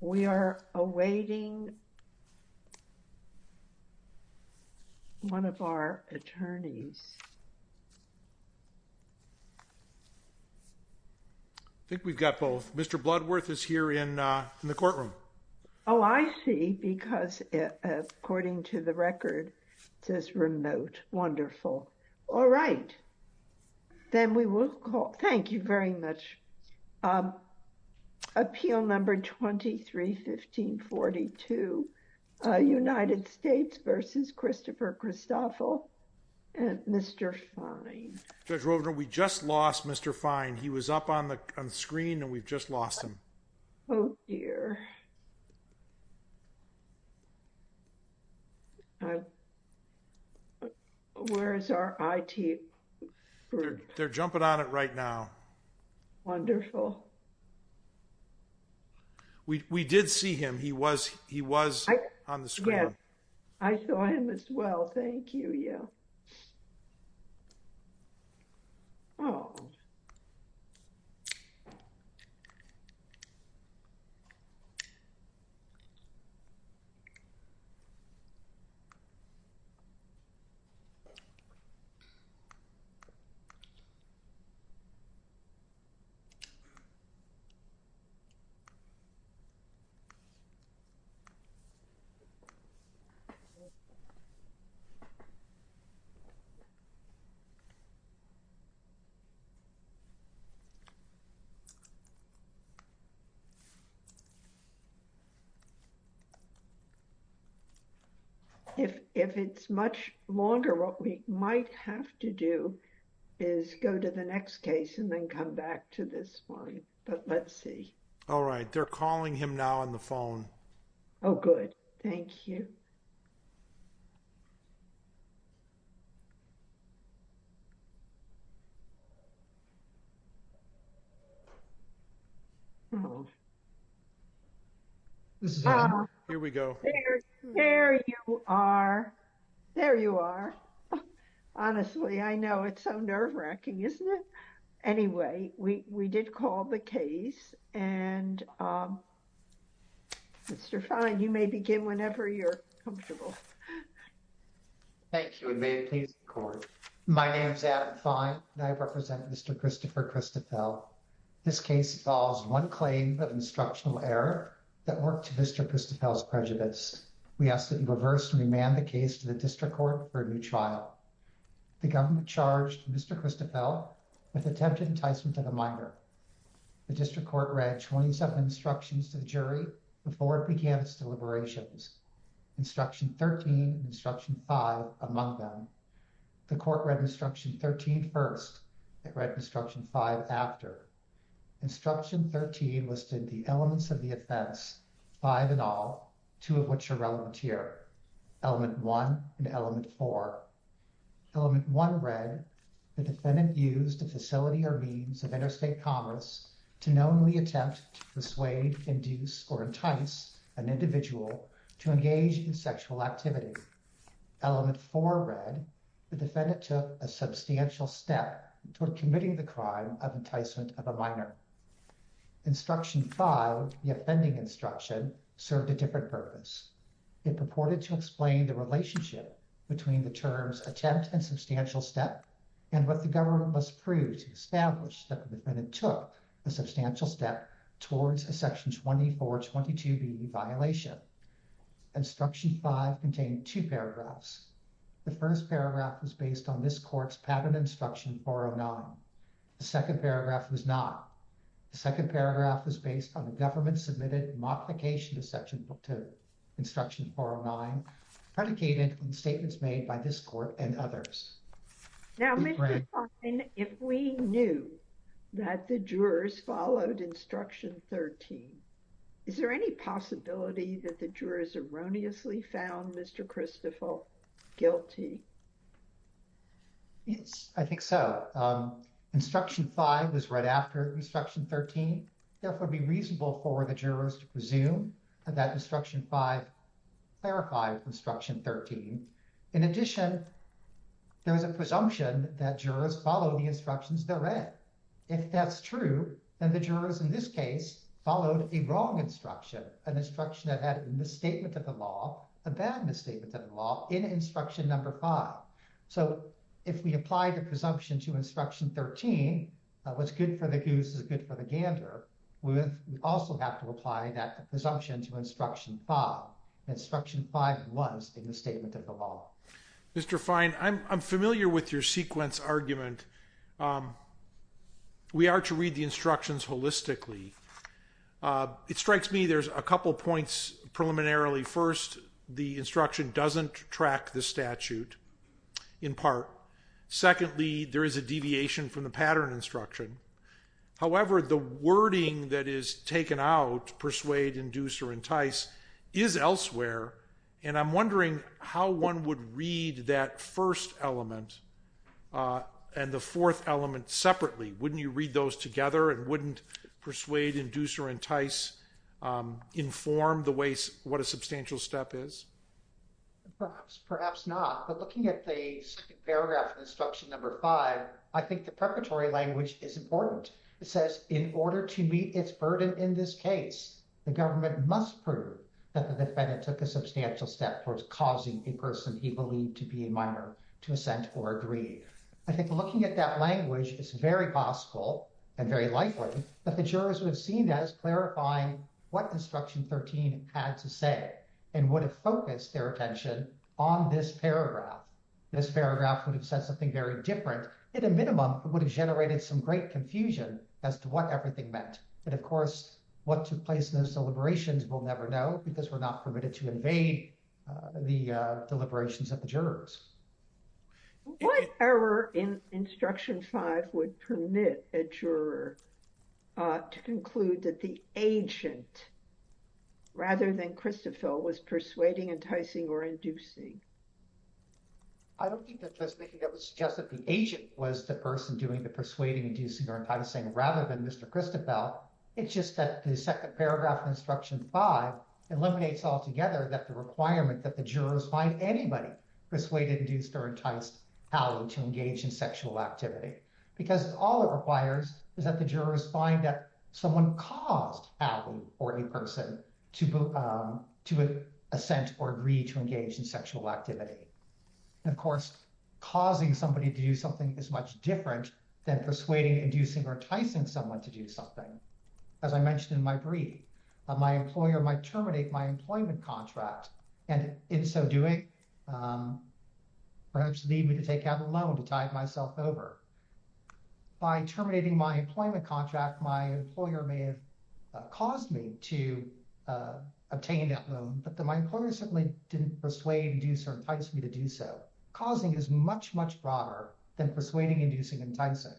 We are awaiting one of our attorneys I think we've got both Mr. Bloodworth is here in the room with us because according to the record says remote wonderful all right then we will call thank you very much appeal number 23 1542 United States vs. Christopher Christophel and Mr. Fine Judge Rovner we just lost Mr. Fine he was up on the screen and we've just lost him. Oh, dear. Where's our it. They're jumping on it right now. Wonderful. We did see him he was he was on the screen. I saw him as well. Thank you. Yeah. Oh, dear. Thank you. Thank you. Thank you. Thank you. I'm calling him now on the phone. Oh good. Thank you. Here we go. There you are. There you are. Honestly, I know it's so nerve wracking isn't it. Anyway, we did call the case, and Mr. Fine you may begin whenever you're comfortable. Thank you, and may it please the court. My name's Adam Fine and I represent Mr. Christopher Christophel. This case involves one claim of instructional error that worked to Mr. Christophel's prejudice. We ask that you reverse and remand the case to the district court for a new trial. The government charged Mr. Christophel with attempted enticement to the minor. The district court read 27 instructions to the jury before it began its deliberations. Instruction 13 instruction five among them. The court read instruction 13 first read instruction five after instruction 13 listed the elements of the offense. Five in all, two of which are relevant here. Element one and element four. Element one read the defendant used a facility or means of interstate commerce to knowingly attempt to persuade, induce, or entice an individual to engage in sexual activity. Element four read the defendant took a substantial step toward committing the crime of enticement of a minor. Instruction five, the offending instruction, served a different purpose. It purported to explain the relationship between the terms attempt and substantial step and what the government must prove to establish that the defendant took a substantial step towards a section 2422B violation. Instruction five contained two paragraphs. The first paragraph was based on this court's pattern instruction 409. The second paragraph was not. The second paragraph was based on the government submitted modification to section 202. Instruction 409 predicated on statements made by this court and others. Now, if we knew that the jurors followed instruction 13, is there any possibility that the jurors erroneously found Mr. Christopher guilty? Yes, I think so. Instruction five was right after instruction 13. Therefore, it would be reasonable for the jurors to presume that instruction five clarified instruction 13. In addition, there was a presumption that jurors followed the instructions they read. If that's true, then the jurors in this case followed a wrong instruction, an instruction that had a misstatement of the law, a bad misstatement of the law in instruction number five. So if we apply the presumption to instruction 13, what's good for the goose is good for the gander. We also have to apply that presumption to instruction five. Instruction five was a misstatement of the law. Mr. Fine, I'm familiar with your sequence argument. We are to read the instructions holistically. It strikes me there's a couple points preliminarily. First, the instruction doesn't track the statute in part. Secondly, there is a deviation from the pattern instruction. However, the wording that is taken out, persuade, induce, or entice, is elsewhere. And I'm wondering how one would read that first element and the fourth element separately. Wouldn't you read those together and wouldn't persuade, induce, or entice inform what a substantial step is? Perhaps not. But looking at the second paragraph of instruction number five, I think the preparatory language is important. It says, in order to meet its burden in this case, the government must prove that the defendant took a substantial step towards causing a person he believed to be a minor to assent or agree. I think looking at that language, it's very possible and very likely that the jurors would have seen that as clarifying what instruction 13 had to say and would have focused their attention on this paragraph. This paragraph would have said something very different. At a minimum, it would have generated some great confusion as to what everything meant. And, of course, what took place in those deliberations we'll never know because we're not permitted to invade the deliberations of the jurors. What error in instruction five would permit a juror to conclude that the agent, rather than Christoffel, was persuading, enticing, or inducing? I don't think that would suggest that the agent was the person doing the persuading, inducing, or enticing rather than Mr. Christoffel. It's just that the second paragraph of instruction five eliminates altogether that the requirement that the jurors find anybody persuaded, induced, or enticed to engage in sexual activity. Because all it requires is that the jurors find that someone caused Allie or a person to assent or agree to engage in sexual activity. And, of course, causing somebody to do something is much different than persuading, inducing, or enticing someone to do something. As I mentioned in my brief, my employer might terminate my employment contract and, in so doing, perhaps need me to take out a loan to tide myself over. By terminating my employment contract, my employer may have caused me to obtain that loan, but my employer certainly didn't persuade, induce, or entice me to do so. Causing is much, much broader than persuading, inducing, or enticing.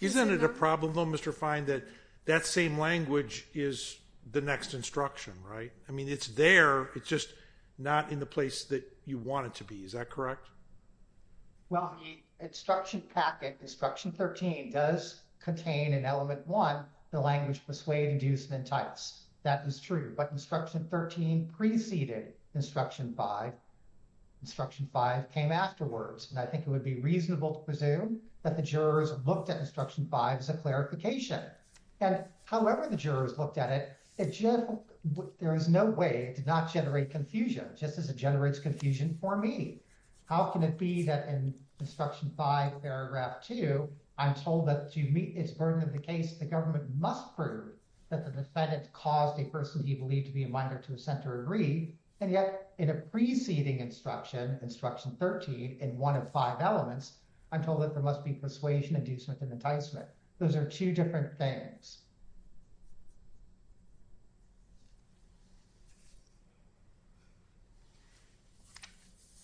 Isn't it a problem, though, Mr. Fine, that that same language is the next instruction, right? I mean, it's there. It's just not in the place that you want it to be. Is that correct? Well, the instruction packet, Instruction 13, does contain in Element 1 the language persuade, induce, and entice. That is true. But Instruction 13 preceded Instruction 5. Instruction 5 came afterwards. And I think it would be reasonable to presume that the jurors looked at Instruction 5 as a clarification. And however the jurors looked at it, there is no way it did not generate confusion, just as it generates confusion for me. How can it be that in Instruction 5, Paragraph 2, I'm told that to meet its burden of the case, the government must prove that the defendant caused a person he believed to be a minor to assent or agree, and yet in a preceding instruction, Instruction 13, in one of five elements, I'm told that there must be persuasion, inducement, and enticement. Those are two different things.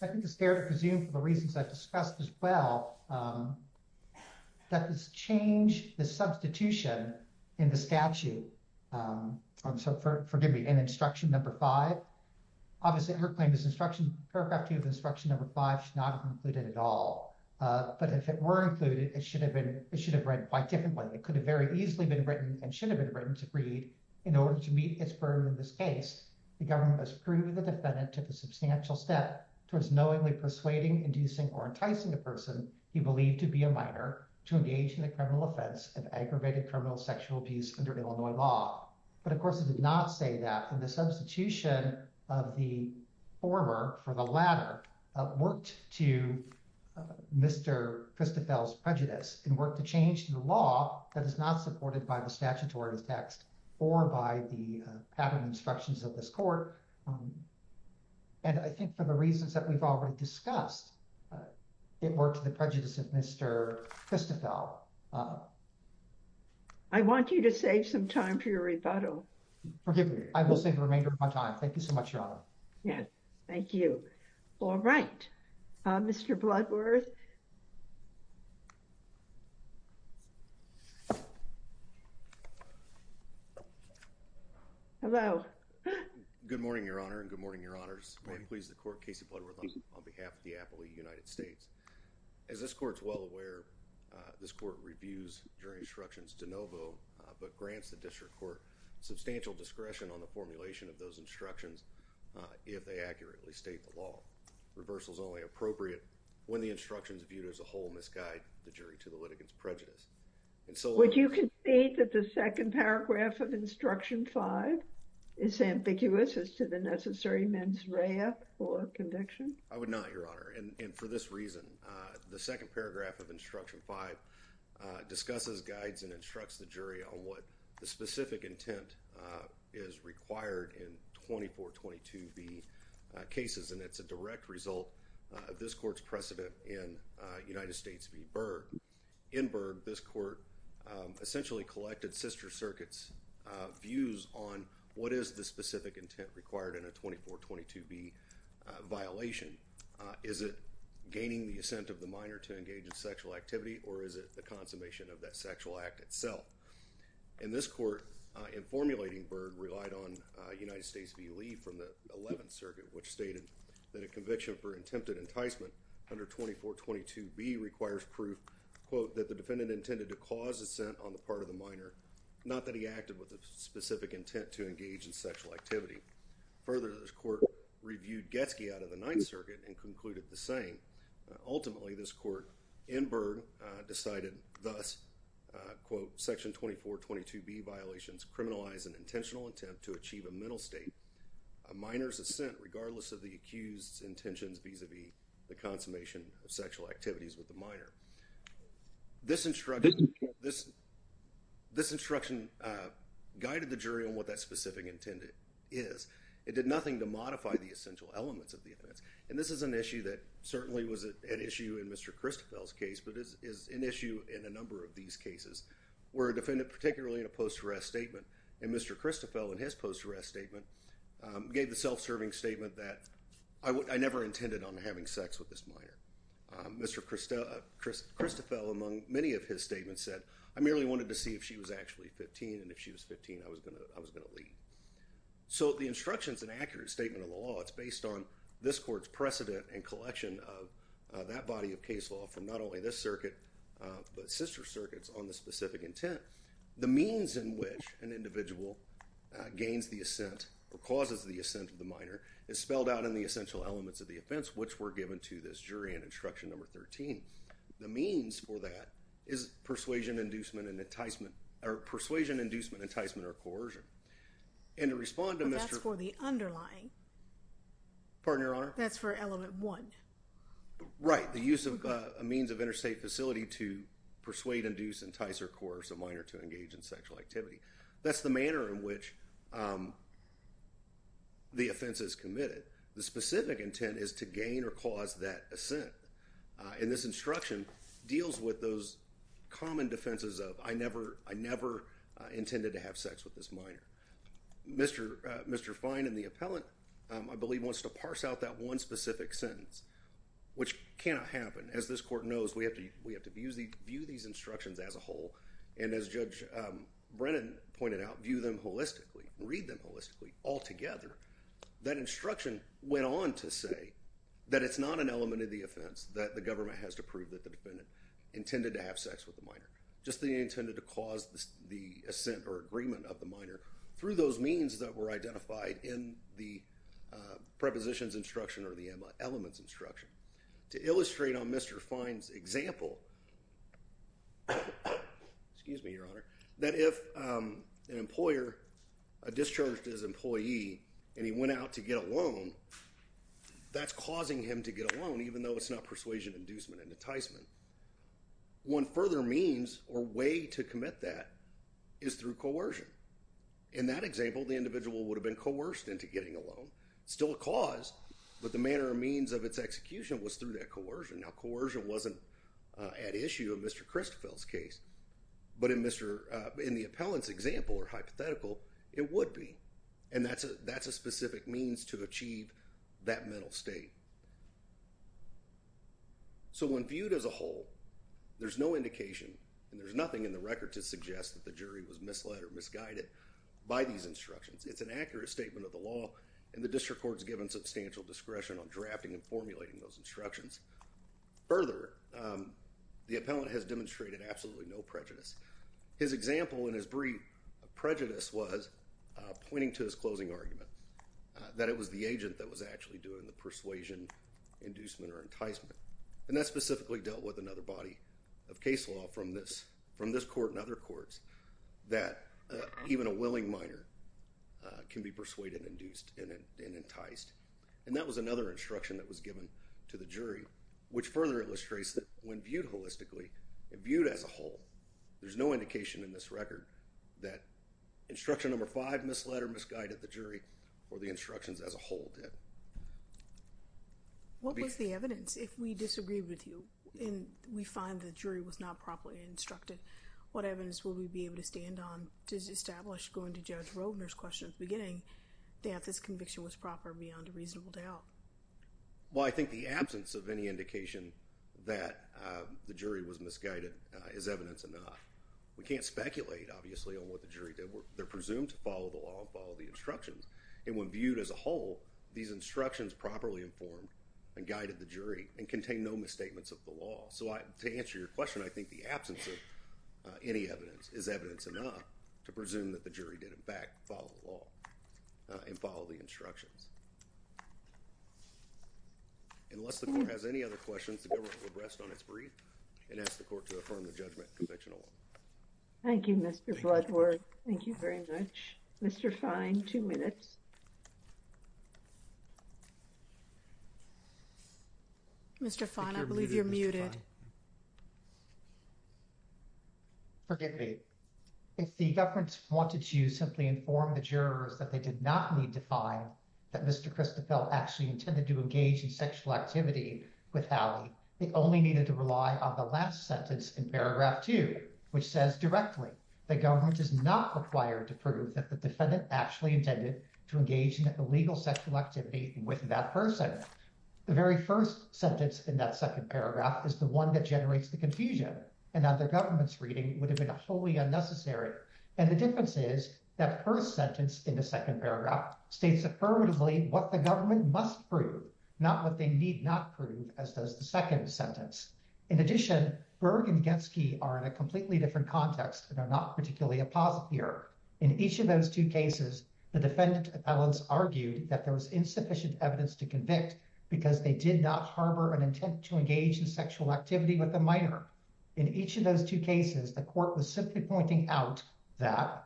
I think it's fair to presume, for the reasons I've discussed as well, that this change, the substitution in the statute, so forgive me, in Instruction 5, obviously her claim is Instruction, Paragraph 2 of Instruction 5 should not have been included at all. But if it were included, it should have read quite differently. It could have very easily been written and should have been written to read, in order to meet its burden of this case, the government must prove that the defendant took a substantial step towards knowingly persuading, inducing, or enticing a person he believed to be a minor to engage in a criminal offense of aggravated criminal sexual abuse under Illinois law. But, of course, it did not say that, and the substitution of the former for the latter worked to Mr. Christoffel's prejudice and worked to change the law that is not supported by the statutory text or by the pattern instructions of this court. And I think for the reasons that we've already discussed, it worked to the prejudice of Mr. Christoffel. I want you to save some time for your rebuttal. Forgive me, I will save the remainder of my time. Thank you so much, Your Honor. Yes, thank you. All right, Mr. Bloodworth. Hello. Good morning, Your Honor, and good morning, Your Honors. I'm pleased to court Casey Bloodworth on behalf of the Appalachian United States. As this court is well aware, this court reviews jury instructions de novo, but grants the district court substantial discretion on the formulation of those instructions if they accurately state the law. Reversal is only appropriate when the instructions viewed as a whole misguide the jury to the litigant's prejudice. Would you concede that the second paragraph of Instruction 5 is ambiguous as to the necessary mens rea or conviction? I would not, Your Honor, and for this reason, the second paragraph of Instruction 5 discusses, guides, and instructs the jury on what the specific intent is required in 2422B cases, and it's a direct result of this court's precedent in United States v. Berg. In Berg, this court essentially collected sister circuits' views on what is the specific intent required in a 2422B violation. Is it gaining the assent of the minor to engage in sexual activity, or is it the consummation of that sexual act itself? And this court, in formulating Berg, relied on United States v. Lee from the 11th Circuit, which stated that a conviction for attempted enticement under 2422B requires proof, quote, that the defendant intended to cause assent on the part of the minor, not that he acted with a specific intent to engage in sexual activity. Further, this court reviewed Getsky out of the 9th Circuit and concluded the same. Ultimately, this court, in Berg, decided thus, quote, Section 2422B violations criminalize an intentional attempt to achieve a mental state, a minor's assent, regardless of the accused's intentions vis-a-vis the consummation of sexual activities with the minor. This instruction guided the jury on what that specific intent is. It did nothing to modify the essential elements of the offense. And this is an issue that certainly was at issue in Mr. Christoffel's case, but is an issue in a number of these cases, where a defendant, particularly in a post-arrest statement, and Mr. Christoffel, in his post-arrest statement, gave the self-serving statement that, I never intended on having sex with this minor. Mr. Christoffel, among many of his statements, said, I merely wanted to see if she was actually 15, and if she was 15, I was going to leave. So the instruction's an accurate statement of the law. It's based on this court's precedent and collection of that body of case law from not only this circuit, but sister circuits, on the specific intent. The means in which an individual gains the assent or causes the assent of the minor is spelled out in the essential elements of the offense, which were given to this jury in instruction number 13. The means for that is persuasion, inducement, and enticement, or persuasion, inducement, enticement, or coercion. And to respond to Mr. But that's for the underlying. Pardon your honor? That's for element one. Right. The use of a means of interstate facility to persuade, induce, entice, or coerce a minor to engage in sexual activity. That's the manner in which the offense is committed. The specific intent is to gain or cause that assent. And this instruction deals with those common defenses of, I never intended to have sex with this minor. Mr. Fine and the appellant, I believe, wants to parse out that one specific sentence, which cannot happen. As this court knows, we have to view these instructions as a whole. And as Judge Brennan pointed out, view them holistically, read them holistically, altogether. That instruction went on to say that it's not an element of the offense that the government has to prove that the defendant intended to have sex with the minor. Just that he intended to cause the assent or agreement of the minor through those means that were identified in the prepositions instruction or the elements instruction. To illustrate on Mr. Fine's example, that if an employer discharged his employee and he went out to get a loan, that's causing him to get a loan, even though it's not persuasion, inducement, enticement. One further means or way to commit that is through coercion. In that example, the individual would have been coerced into getting a loan, still a cause, but the manner or means of its execution was through that coercion. Now, coercion wasn't at issue in Mr. Christoffel's case, but in the appellant's example or hypothetical, it would be. And that's a specific means to achieve that mental state. So when viewed as a whole, there's no indication and there's nothing in the record to suggest that the jury was misled or misguided by these instructions. It's an accurate statement of the law and the district court is given substantial discretion on drafting and formulating those instructions. Further, the appellant has demonstrated absolutely no prejudice. His example and his brief prejudice was pointing to his closing argument that it was the agent that was actually doing the persuasion, inducement, or enticement. And that specifically dealt with another body of case law from this court and other courts that even a willing minor can be persuaded, induced, and enticed. And that was another instruction that was given to the jury, which further illustrates that when viewed holistically and viewed as a whole, there's no indication in this record that instruction number five misled or misguided the jury or the instructions as a whole did. What was the evidence? If we disagree with you and we find the jury was not properly instructed, what evidence will we be able to stand on to establish going to Judge Roedner's question at the beginning that this conviction was proper beyond a reasonable doubt? Well, I think the absence of any indication that the jury was misguided is evidence enough. We can't speculate, obviously, on what the jury did. They're presumed to follow the law and follow the instructions. And when viewed as a whole, these instructions properly informed and guided the jury and contain no misstatements of the law. So to answer your question, I think the absence of any evidence is evidence enough to presume that the jury did, in fact, follow the law and follow the instructions. Unless the court has any other questions, the government will rest on its brief and ask the court to affirm the judgment conviction alone. Thank you, Mr. Bloodworth. Thank you very much. Mr. Fine, two minutes. Mr. Fine, I believe you're muted. Forgive me if the government wanted to simply inform the jurors that they did not need to find that Mr. The very first sentence in that second paragraph is the one that generates the confusion and that the government's reading would have been a wholly unnecessary. And the difference is that first sentence in the second paragraph states affirmatively what the government must prove, not what they need not prove, as does the second sentence. In addition, Berg and Getsky are in a completely different context and are not particularly a positive here. In each of those two cases, the defendant appellants argued that there was insufficient evidence to convict because they did not harbor an intent to engage in sexual activity with a minor. In each of those two cases, the court was simply pointing out that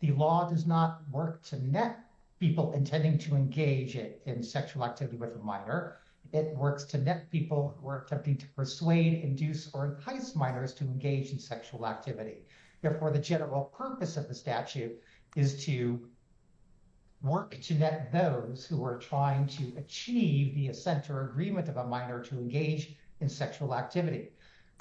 the law does not work to net people intending to engage in sexual activity with a minor. It works to net people who are attempting to persuade, induce, or entice minors to engage in sexual activity. Therefore, the general purpose of the statute is to work to net those who are trying to achieve the assent or agreement of a minor to engage in sexual activity.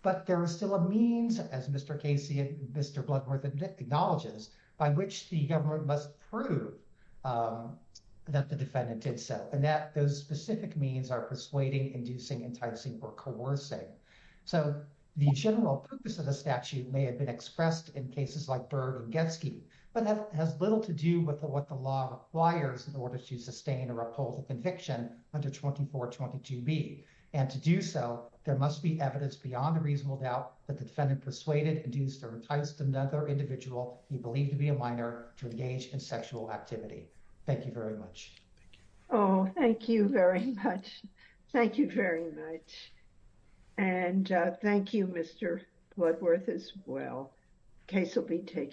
But there is still a means, as Mr. Casey and Mr. Bloodworth acknowledges, by which the government must prove that the defendant did so. And that those specific means are persuading, inducing, enticing, or coercing. So the general purpose of the statute may have been expressed in cases like Berg and Getsky, but that has little to do with what the law requires in order to sustain or uphold the conviction under 2422B. And to do so, there must be evidence beyond a reasonable doubt that the defendant persuaded, induced, or enticed another individual he believed to be a minor to engage in sexual activity. Thank you very much. Oh, thank you very much. Thank you very much. And thank you, Mr. Bloodworth, as well. Case will be taken.